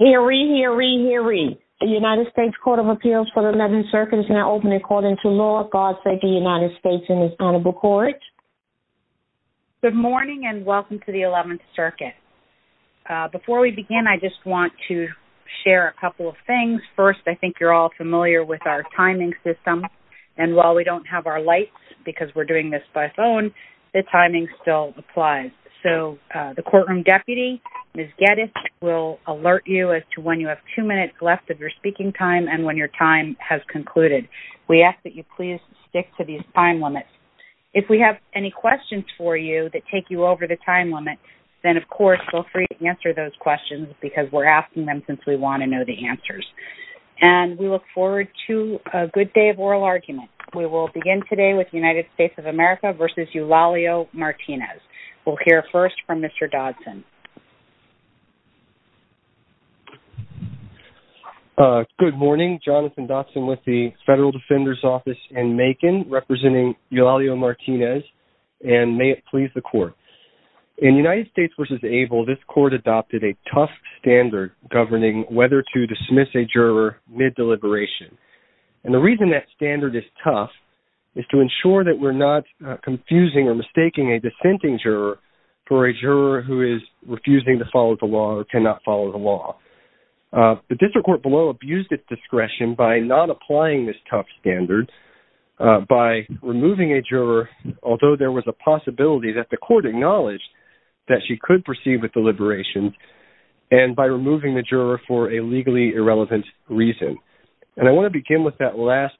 Good morning and welcome to the 11th Circuit. Before we begin, I just want to share a couple of things. First, I think you're all familiar with our timing system. And while we don't have our lights, because we're doing this by phone, the timing still applies. So the courtroom deputy, Ms. Geddes, will alert you as to when you have two minutes left of your speaking time and when your time has concluded. We ask that you please stick to these time limits. If we have any questions for you that take you over the time limit, then of course, feel free to answer those questions, because we're asking them since we want to know the answers. And we look forward to a good day of oral argument. We will begin today with United States of America v. Eulalio Martinez. We'll hear first from Mr. Dodson. Good morning. Jonathan Dodson with the Federal Defender's Office in Macon, representing Eulalio Martinez. And may it please the Court. In United States v. ABLE, this Court adopted a tough standard governing whether to dismiss a juror mid-deliberation. And the reason that this standard is tough is to ensure that we're not confusing or mistaking a dissenting juror for a juror who is refusing to follow the law or cannot follow the law. The District Court below abused its discretion by not applying this tough standard, by removing a juror, although there was a possibility that the Court acknowledged that she could proceed with deliberation, and by removing the juror for a legally irrelevant reason. And I want to begin with that last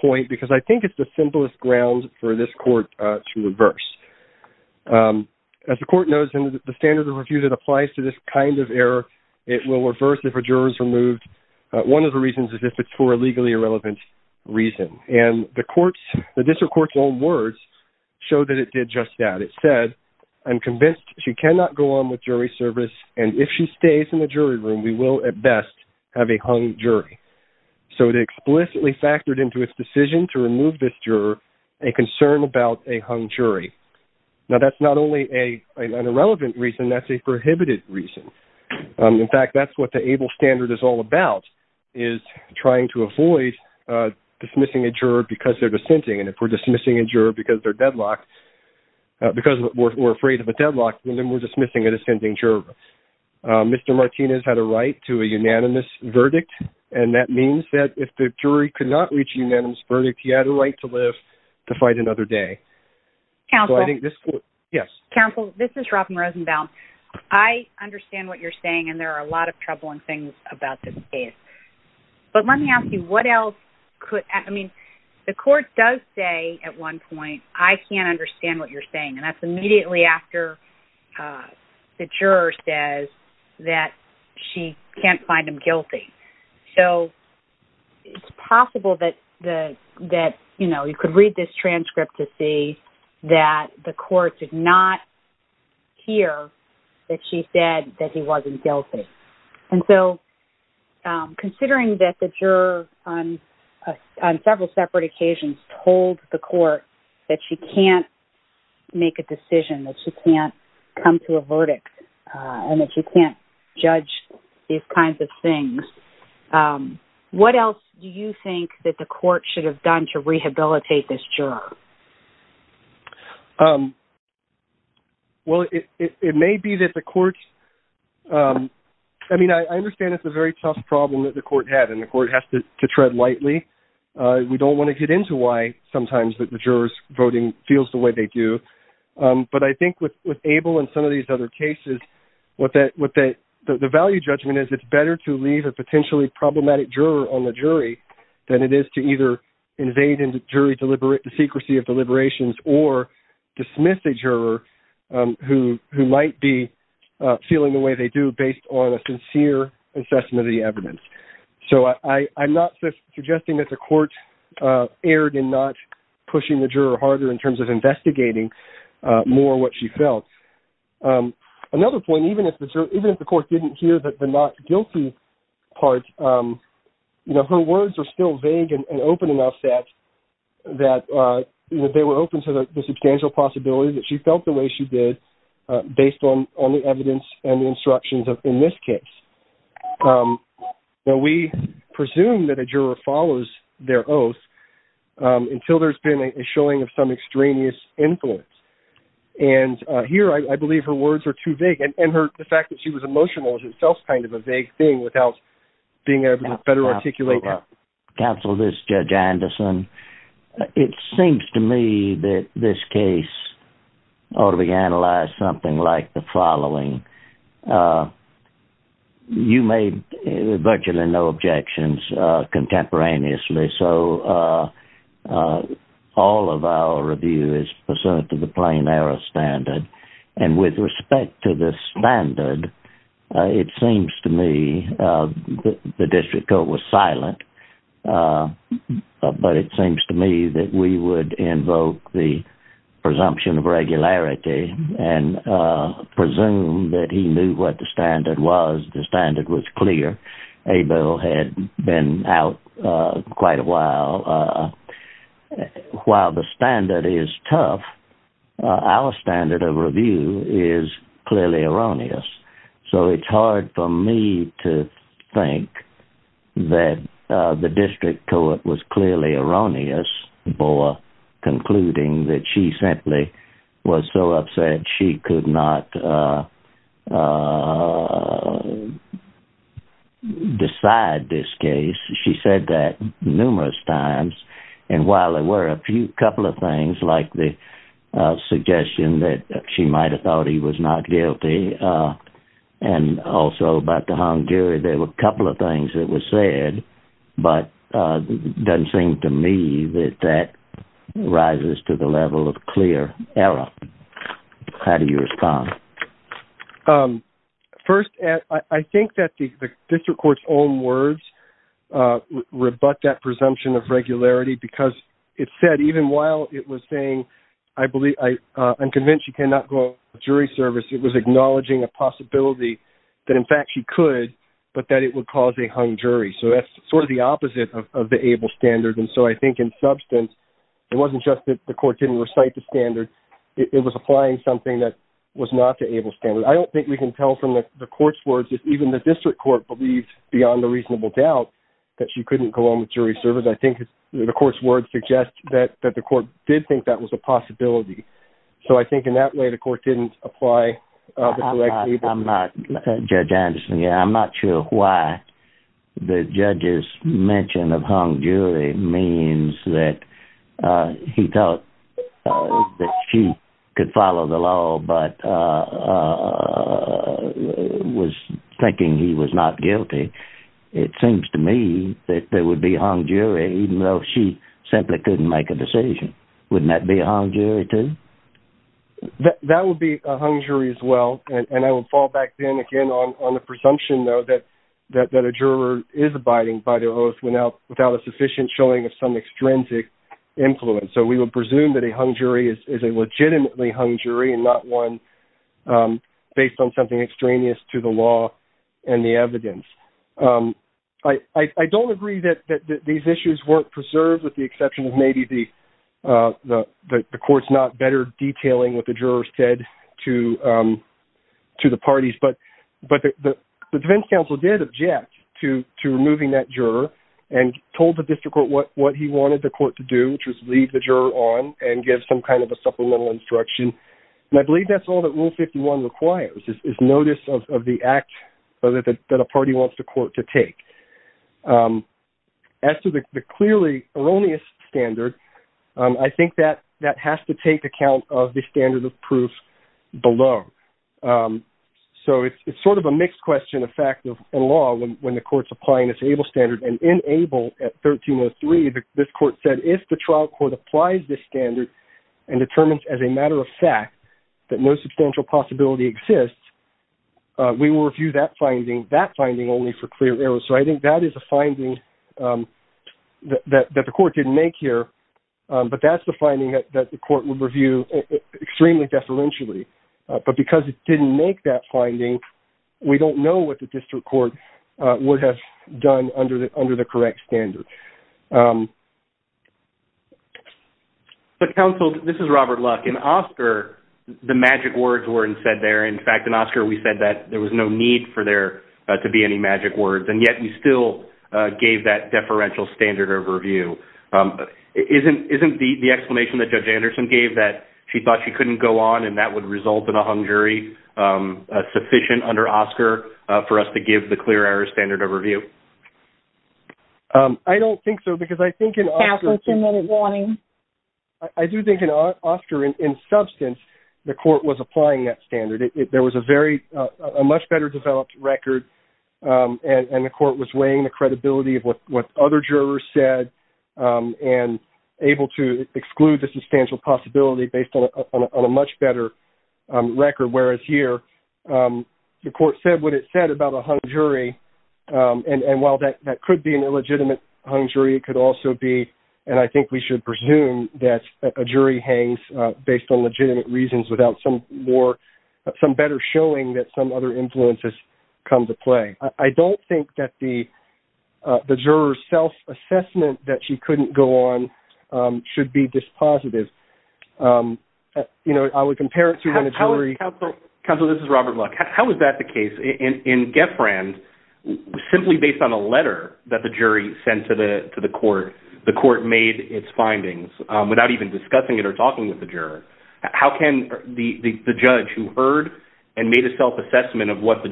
point, because I think it's the simplest ground for this Court to reverse. As the Court knows, the standard of refusal applies to this kind of error. It will reverse if a juror is removed. One of the reasons is if it's for a legally irrelevant reason. And the District Court's own words show that it did just that. It said, I'm convinced she cannot go on with jury service, and if she stays in the jury room, we will at best have a hung jury. So it explicitly factored into its decision to remove this juror a concern about a hung jury. Now that's not only an irrelevant reason, that's a prohibited reason. In fact, that's what the ABLE standard is all about, is trying to avoid dismissing a juror because they're dissenting. And if we're dismissing a juror because they're deadlocked, because we're afraid of a deadlock, then we're dismissing a dissenting juror. Mr. Martinez had a right to a unanimous verdict, and that means that if the jury could not reach a unanimous verdict, he had a right to live to fight another day. Counsel? Yes? Counsel, this is Robin Rosenbaum. I understand what you're saying, and there are a lot of troubling things about this case. But let me ask you, what else could... I mean, the Court does say at one point, I can't understand what you're saying, and that's immediately after the juror says that she can't find him guilty. So it's possible that, you know, you could read this transcript to see that the Court did not hear that she said that he wasn't guilty. And so considering that the juror on several separate occasions told the Court that she can't make a decision, that she can't come to a verdict, and that she can't judge these kinds of things, what else do you think that the Court should have done to rehabilitate this juror? Well, it may be that the Court's... I mean, I understand it's a very tough problem that the Court has, and the Court has to tread lightly. We don't want to get into why sometimes that the juror's voting feels the way they do. But I think with Abel and some of these other cases, what the value judgment is, it's better to leave a potentially problematic juror on the jury than it is to either invade into jury secrecy of deliberations or dismiss a juror who might be feeling the way they do based on a sincere assessment of the evidence. So I'm not suggesting that the Court erred in not pushing the juror harder in terms of investigating more what she felt. Another point, even if the Court didn't hear that the not guilty part, you know, her words are still vague and open enough that, you know, they were open to the substantial possibility that she felt the way she did based on the evidence and the instructions in this case. Now, we presume that a juror follows their oath until there's been a showing of some extraneous influence. And here I believe her words are too vague, and the fact that she was emotional is itself kind of a vague thing without being able to better articulate that. Counsel, this is Judge Anderson. It seems to me that this case ought to be analyzed something like the following. You made virtually no objections contemporaneously, so all of our review is pursuant to the plain error standard. And with respect to the standard, it seems to me the district court was silent, but it seems to me that we would invoke the presumption of regularity and presume that he knew what the standard was. The standard was clear. Abel had been out quite a while. While the standard is tough, our standard of review is clearly erroneous. So it's hard for me to think that the district court was clearly erroneous for concluding that she simply was so upset she could not decide this case. She said that numerous times. And while there were a few couple of things like the suggestion that she might have thought he was not guilty, and also about the hound gear, there were a couple of things that were said, but it doesn't seem to me that that rises to the level of clear error. How do you respond? First, I think that the district court's own words rebut that presumption of regularity because it said even while it was saying, I'm convinced she cannot go on jury service, it was acknowledging a possibility that in fact she could, but that it would cause a hung jury. So that's sort of the opposite of the Abel standard. And so I think in substance, it wasn't just that the court didn't recite the standard, it was applying something that was not the Abel standard. I don't think we can tell from the court's words if even the district court believes beyond a reasonable doubt that she couldn't go on with jury service. I think the court's words suggest that the court did think that was a possibility. So I think in that way, the court didn't apply. I'm not, Judge Anderson, yeah, I'm not sure why the judge's mention of hung jury means that he thought that she could follow the law, but was thinking he was not guilty. It was a hung jury, even though she simply couldn't make a decision. Wouldn't that be a hung jury, too? That would be a hung jury as well. And I would fall back then again on the presumption, though, that a juror is abiding by the oath without a sufficient showing of some extrinsic influence. So we would presume that a hung jury is a legitimately hung jury and not one based on something extraneous to the law and the evidence. I don't agree that these issues weren't preserved with the exception of maybe the court's not better detailing what the jurors said to the parties, but the defense counsel did object to removing that juror and told the district court what he wanted the court to do, which was leave the juror on and give some kind of a supplemental instruction. And I believe that's all that Rule 51 requires, is notice of the act that a party wants the court to take. As to the clearly erroneous standard, I think that has to take account of the standard of proof below. So it's sort of a mixed question of fact and law when the court's applying this ABLE standard. And in ABLE, at 1303, this court said if the trial court applies this standard and determines as a matter of fact that no substantial possibility exists, we will review that finding, that finding only for clear errors. So I think that is a finding that the court didn't make here, but that's the finding that the court would review extremely deferentially. But because it didn't make that finding, we don't know what the district court would have done under the correct standard. So, counsel, this is Robert Luck. In Oscar, the magic words weren't said there. In fact, in Oscar, we said that there was no need for there to be any magic words. And yet, you still gave that deferential standard overview. Isn't the explanation that Judge Anderson gave that she thought she couldn't go on and that would result in a hung jury sufficient under Oscar for us to give the clear error standard overview? I don't think so, because I think in Oscar... Counsel, two-minute warning. I do think in Oscar, in substance, the court was applying that standard. There was a very much better developed record, and the court was weighing the credibility of what other jurors said and able to exclude the substantial possibility based on a much better record. Whereas here, the court said what it said about a hung jury, and while that could be an illegitimate hung jury, it could also be, and I think we should presume that a jury hangs based on legitimate reasons without some better showing that some other influences come to play. I don't think that the juror's self-assessment that she couldn't go on should be dispositive. I would compare it to when a jury... Counsel, this is Robert Luck. How is that the case? In Geffrand, simply based on a letter that the jury sent to the court, the court made its findings without even discussing it or talking with the juror. How can the judge who heard and made a self-assessment of what the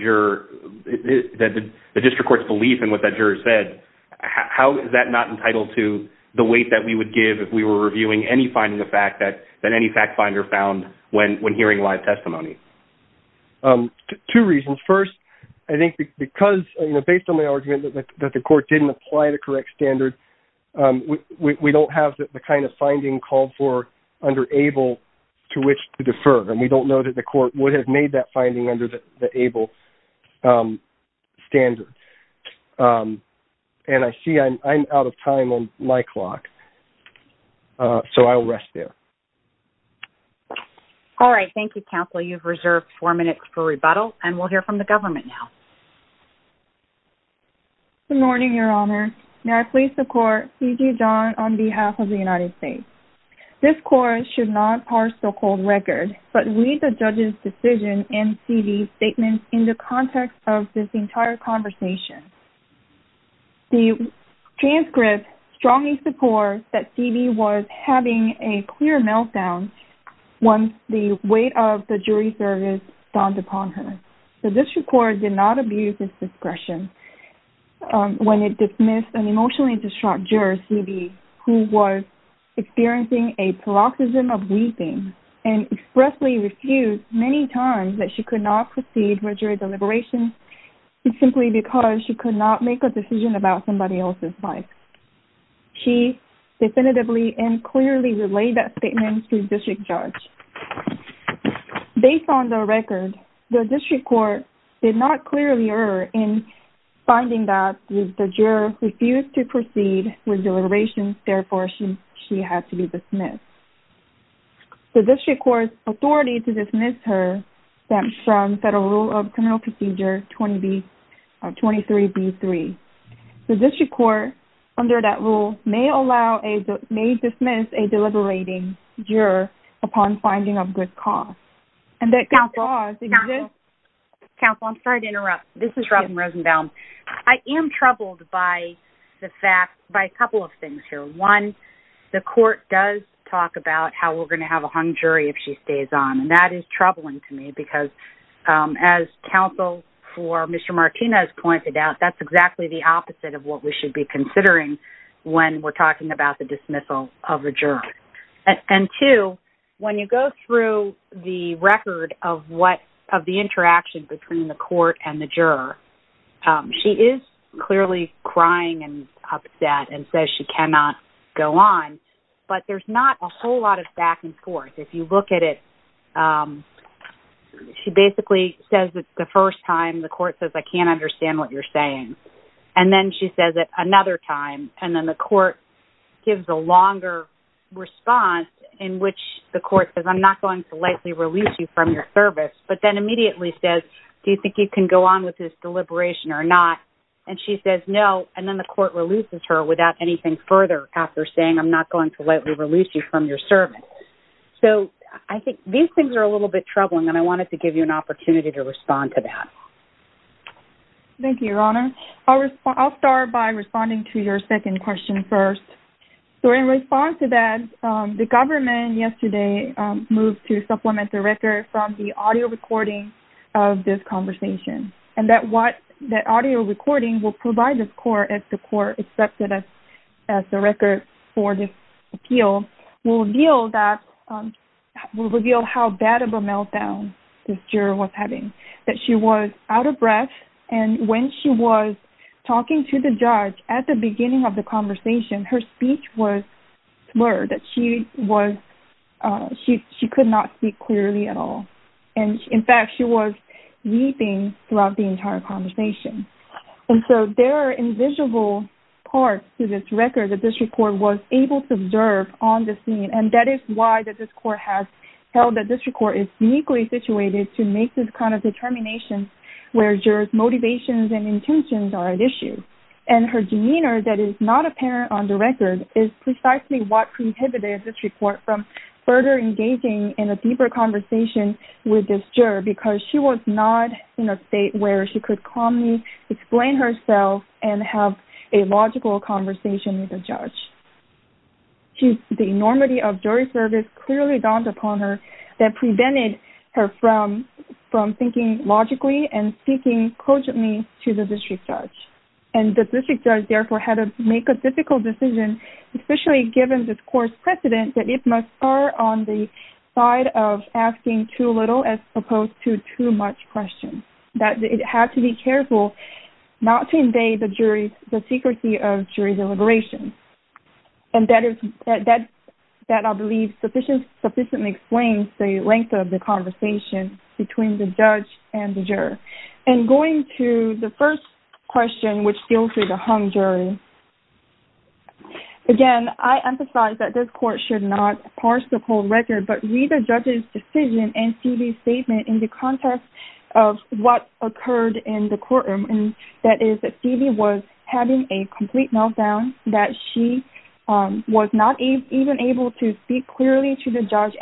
district court's belief in what that juror said, how is that not entitled to the weight that we would give if we were reviewing any finding of fact that any fact testimony? Two reasons. First, I think because, you know, based on my argument that the court didn't apply the correct standard, we don't have the kind of finding called for under able to which to defer, and we don't know that the court would have made that finding under the able standard. And I see I'm out of time on my clock, so I'll rest there. All right. Thank you, Counsel. You've reserved four minutes for rebuttal, and we'll hear from the government now. Good morning, Your Honor. May I please support C.G. John on behalf of the United States? This court should not parse the cold record, but read the judge's decision and C.B.'s statement in the context of this entire conversation. The transcript strongly supports that C.B. was having a clear meltdown once the weight of the jury service dawned upon her. The district court did not abuse its discretion when it dismissed an emotionally distraught juror, C.B., who was experiencing a paroxysm of weeping and expressly refused many times that she could not proceed with jury deliberations simply because she could not make a decision about somebody else's life. She definitively and clearly relayed that statement to the district judge. Based on the record, the district court did not clearly err in finding that the juror refused to proceed with deliberations, therefore she had to be dismissed. The district court's authority to dismiss her stemmed from Federal Rule of Criminal Procedure 23B.3. The district court, under that rule, may dismiss a deliberating juror upon finding of good cause. Counsel, I'm sorry to interrupt. This is Robin Rosenbaum. I am troubled by a couple of things here. One, the court does talk about how we're going to have a hung jury if she is dismissed. As counsel for Mr. Martinez pointed out, that's exactly the opposite of what we should be considering when we're talking about the dismissal of a juror. And two, when you go through the record of the interaction between the court and the juror, she is clearly crying and upset and says she cannot go on, but there's not a whole lot of back and forth. If you look at it, she basically says that the first time, the court says, I can't understand what you're saying. And then she says it another time, and then the court gives a longer response in which the court says, I'm not going to lightly release you from your service, but then immediately says, do you think you can go on with this deliberation or not? And she says no, and then the court releases her without anything further after saying, I'm not going to lightly release you from your service. So I think these things are a little bit troubling, and I wanted to give you an opportunity to respond to that. Thank you, Your Honor. I'll start by responding to your second question first. So in response to that, the government yesterday moved to supplement the record from the audio recording of this conversation, and that audio recording will provide this court as the court accepted as the record for this appeal, will reveal that, will reveal how bad of a meltdown this juror was having, that she was out of breath, and when she was talking to the judge at the beginning of the conversation, her speech was blurred, that she was, she could not speak clearly at all. And in fact, she was weeping throughout the entire conversation. And so there are invisible parts to this record that this report was able to observe on the scene, and that is why this court has held that this court is uniquely situated to make this kind of determination where jurors' motivations and intentions are at issue. And her demeanor that is not apparent on the record is precisely what prohibited this report from further engaging in a deeper conversation with this juror, because she was not in a state where she could calmly explain herself and have a logical conversation with the judge. The enormity of jury service clearly dawned upon her that prevented her from thinking logically and speaking cogently to the district judge. And the district judge therefore had to make a difficult decision, especially given this to too much question, that it had to be careful not to invade the jury, the secrecy of jury deliberation. And that is, that I believe sufficiently explains the length of the conversation between the judge and the juror. And going to the first question, which deals with the hung jury, again, I emphasize that this court should not parse the whole record, but read the judge's decision and Stevie's statement in the context of what occurred in the courtroom. And that is that Stevie was having a complete meltdown, that she was not even able to speak clearly to the judge,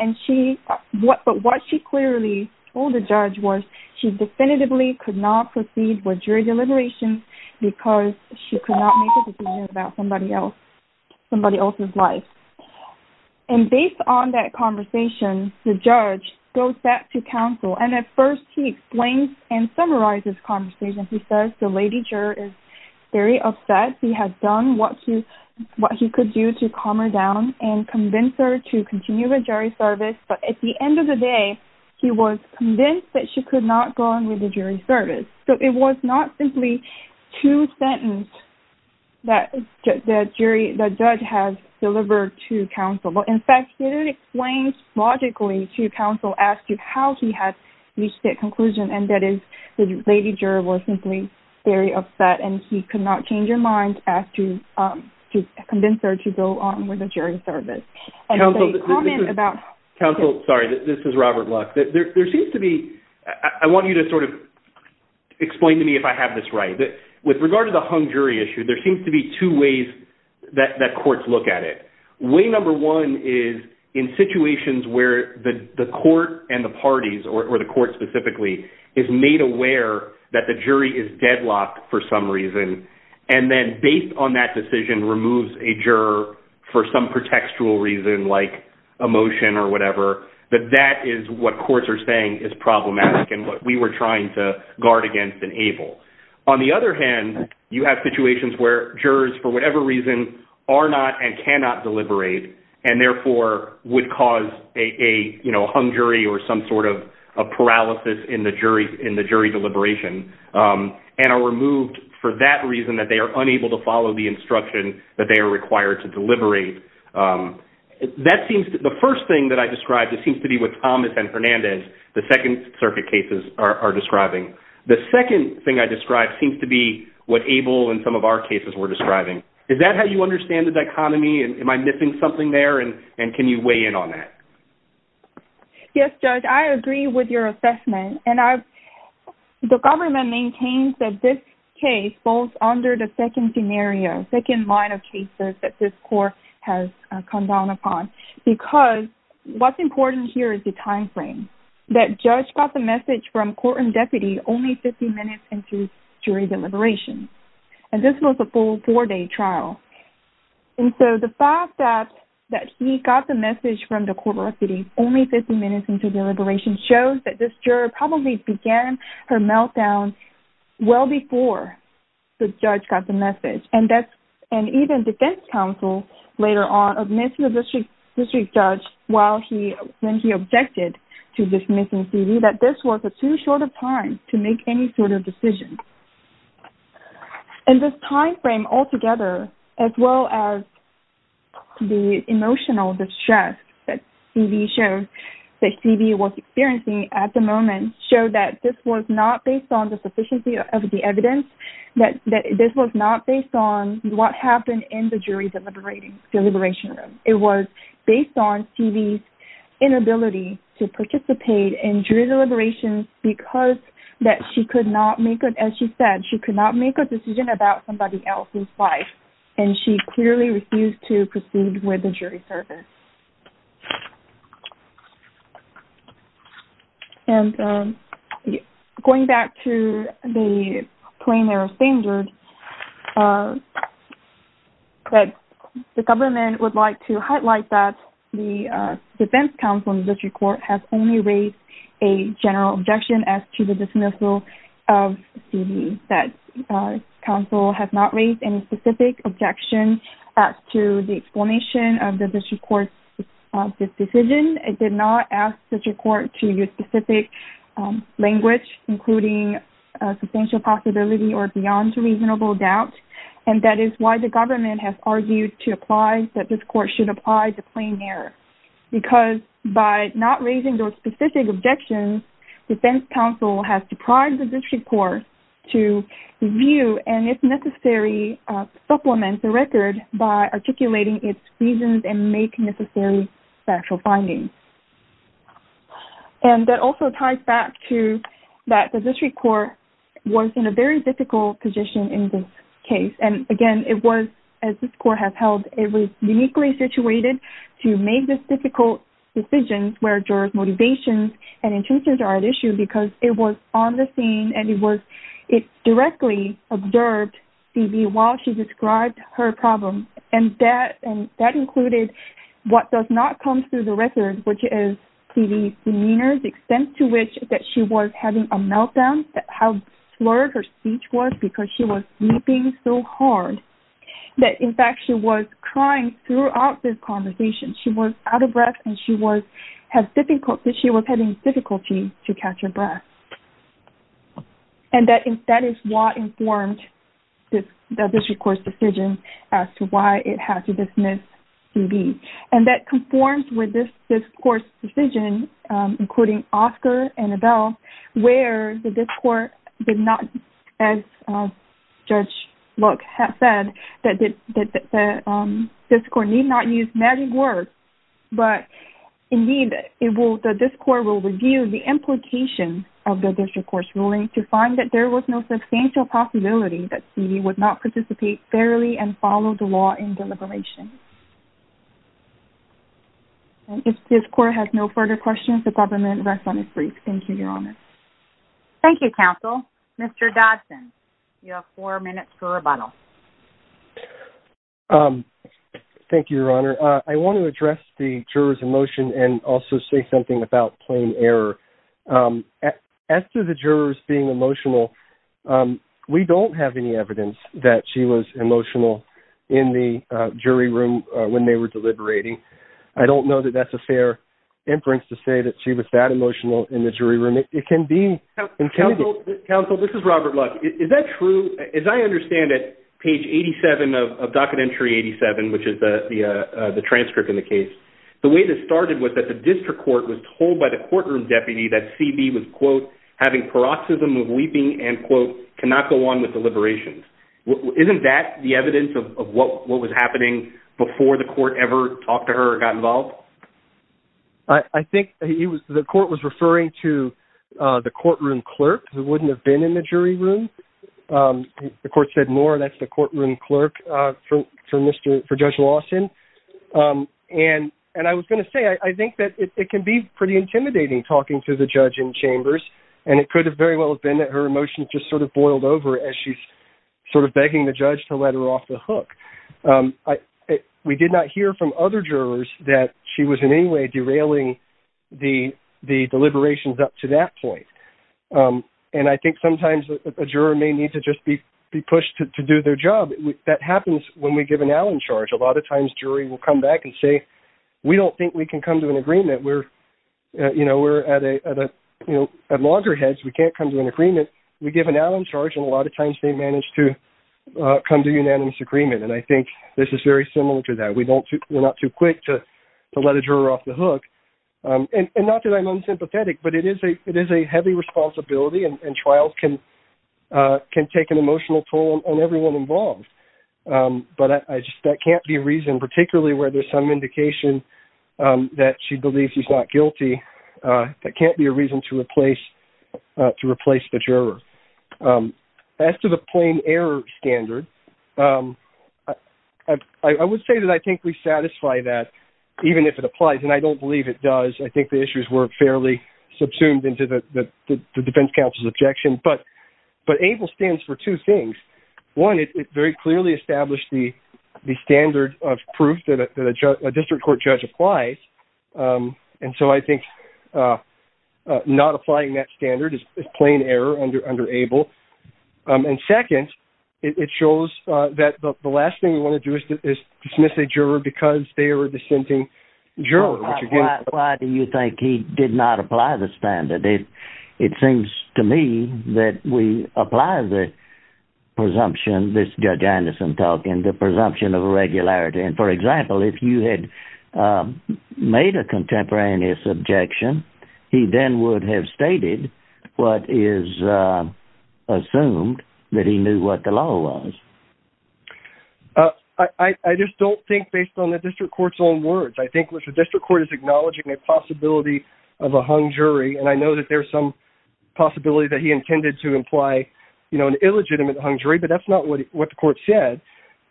but what she clearly told the judge was she definitively could not proceed with jury deliberation because she could not make a decision about somebody else's life. And based on that conversation, the judge goes back to counsel. And at first he explains and summarizes the conversation. He says the lady juror is very upset. He has done what he could do to calm her down and convince her to continue with jury service. But at the end of the day, he was convinced that she could not go on with the jury service. So it was not simply two sentences that the judge has delivered to counsel. But in fact, it explains logically to counsel as to how he had reached that conclusion. And that is the lady juror was simply very upset and he could not change her mind as to convince her to go on with the jury service. Council, sorry, this is Robert Luck. There seems to be, I want you to sort of explain to me if I have this right. With regard to the hung jury issue, there seems to be two ways that courts look at it. Way number one is in situations where the court and the parties or the court specifically is made aware that the jury is deadlocked for some reason. And then based on that decision removes a juror for some contextual reason like emotion or whatever, that that is what courts are saying is problematic and what we were trying to guard against and able. On the other hand, you have situations where jurors for whatever reason are not and cannot deliberate and therefore would cause a hung jury or some sort of paralysis in the jury deliberation and are removed for that reason that they are unable to follow the instruction that they are required to deliberate. That seems to, the first thing that I described just seems to be with Thomas and Hernandez, the second circuit cases are describing. The second thing I described seems to be what Abel and some of our cases were describing. Is that how you understand the dichotomy? Am I missing something there? And can you weigh in on that? Yes, Judge, I agree with your assessment. And I, the government maintains that this case falls under the second scenario, second line of cases that this court has come down upon because what's important here is the timeframe. That judge got the message from court and deputy only 15 minutes into jury deliberation. And this was a full four-day trial. And so the fact that he got the message from the court of recidivism only 15 minutes into deliberation shows that this juror probably began her meltdown well before the judge got the message. And that's, and even defense counsel later on admitted to the district judge while he, when he objected to dismissing CD that this was a too short of time to make any sort of decision. And this timeframe altogether, as well as the emotional distress that CD shows, that CD was experiencing at the moment showed that this was not based on the sufficiency of the evidence, that this was not based on what happened in the jury deliberating, deliberation room. It was based on CD's inability to participate in jury deliberations because that she could not make, as she said, she could not make a decision about somebody else's life. And she clearly refused to proceed with the jury service. And going back to the plainer of standards, the government would like to highlight that the defense counsel in the district court has only raised a general objection as to the dismissal of CD. That counsel has not raised any specific objection to the explanation of the district court's decision. It did not ask the district court to use specific language, including substantial possibility or beyond reasonable doubt. And that is why the government has argued to apply, that this court should apply the plainer. Because by not raising those specific objections, defense counsel has deprived the district court to review and, if necessary, supplement the record by articulating its reasons and make necessary factual findings. And that also ties back to that the district court was in a very difficult position in this case. And, again, it was, as this court has held, it was uniquely situated to make this difficult decision where jurors' motivations and intentions are at issue because it was on the scene and it was, it directly observed CD while she described her problem. And that included what does not come through the record, which is CD's demeanor, the extent to which that she was having a meltdown, how slurred her speech was because she was weeping so hard that, in fact, she was crying throughout this conversation. She was out of breath and she was having difficulty to catch her breath. And that is what informed the district court's decision as to why it had to dismiss CD. And that conforms with this court's decision, including Oscar and Adele, where the district court did not, as Judge Luck has said, that the district court need not use magic words, but, indeed, it will, the district court will review the implication of the district court's ruling to find that there was no substantial possibility that CD would not participate fairly and follow the law in deliberation. And if this court has no further questions, the government rest on its feet. Thank you, Your Honor. Thank you, counsel. Mr. Dodson, you have four minutes for rebuttal. Thank you, Your Honor. I want to address the juror's emotion and also say something about plain error. As to the juror's being emotional, we don't have any evidence that she was emotional in the jury room when they were deliberating. I don't know that that's a fair inference to say that she was that emotional in the jury room. It can be. Counsel, this is Robert Luck. Is that true? As I understand it, page 87 of docket entry 87, which is the transcript in the case, the way this started was that the district court was told by the courtroom deputy that CD was, quote, having paroxysm of weeping and, quote, not go on with deliberations. Isn't that the evidence of what was happening before the court ever talked to her or got involved? I think the court was referring to the courtroom clerk, who wouldn't have been in the jury room. The court said, no, that's the courtroom clerk for Judge Lawson. And I was going to say, I think that it can be pretty intimidating talking to the judge in chambers. And it could have very well been that her emotions just sort of boiled over as she's sort of begging the judge to let her off the hook. We did not hear from other jurors that she was in any way derailing the deliberations up to that point. And I think sometimes a juror may need to just be pushed to do their job. That happens when we give an Allen charge. A lot of times, jury will come back and say, we don't think we can come to an agreement. We're at loggerheads. We can't come to an agreement. We give an Allen charge, and a lot of times they manage to come to unanimous agreement. And I think this is very similar to that. We're not too quick to let a juror off the hook. And not that I'm unsympathetic, but it is a heavy responsibility, and trials can take an emotional toll on everyone involved. But that can't be reasoned, particularly where there's some indication that she believes she's not guilty. That can't be a reason to replace the juror. As to the plain error standard, I would say that I think we satisfy that, even if it applies. And I don't believe it does. I think the issues were fairly subsumed into the defense counsel's objection. But ABLE stands for two things. One, it very clearly established the standard of proof that a district court judge applies. And so I think not applying that standard is plain error under ABLE. And second, it shows that the last thing we want to do is dismiss a juror because they are a dissenting juror. Why do you think he did not apply the standard? It seems to me that we apply the presumption, this Judge Anderson talking, the presumption of irregularity. And for example, if you had made a contemporaneous objection, he then would have stated what is assumed that he knew what the law was. I just don't think based on the district court's own words. I think the district court is acknowledging a possibility of a hung jury. And I know that there's some possibility that he intended to imply an illegitimate hung jury, but that's not what the court said.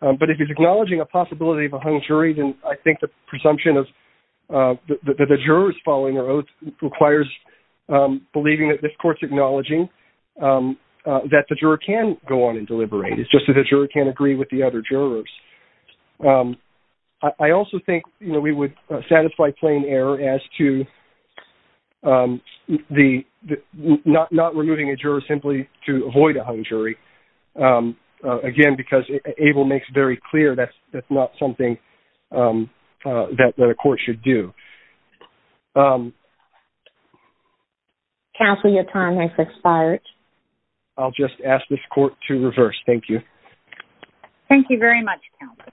But if he's acknowledging a possibility of a hung jury, then I think the presumption of the jurors following their oath requires believing that this court's acknowledging that the juror can go on and deliberate. It's just that the juror can't agree with the other jurors. I also think we would satisfy plain error as to not removing a juror simply to avoid a hung jury. Again, because Able makes very clear that's not something that a court should do. Counsel, your time has expired. I'll just ask this court to reverse. Thank you. Thank you very much, Counsel.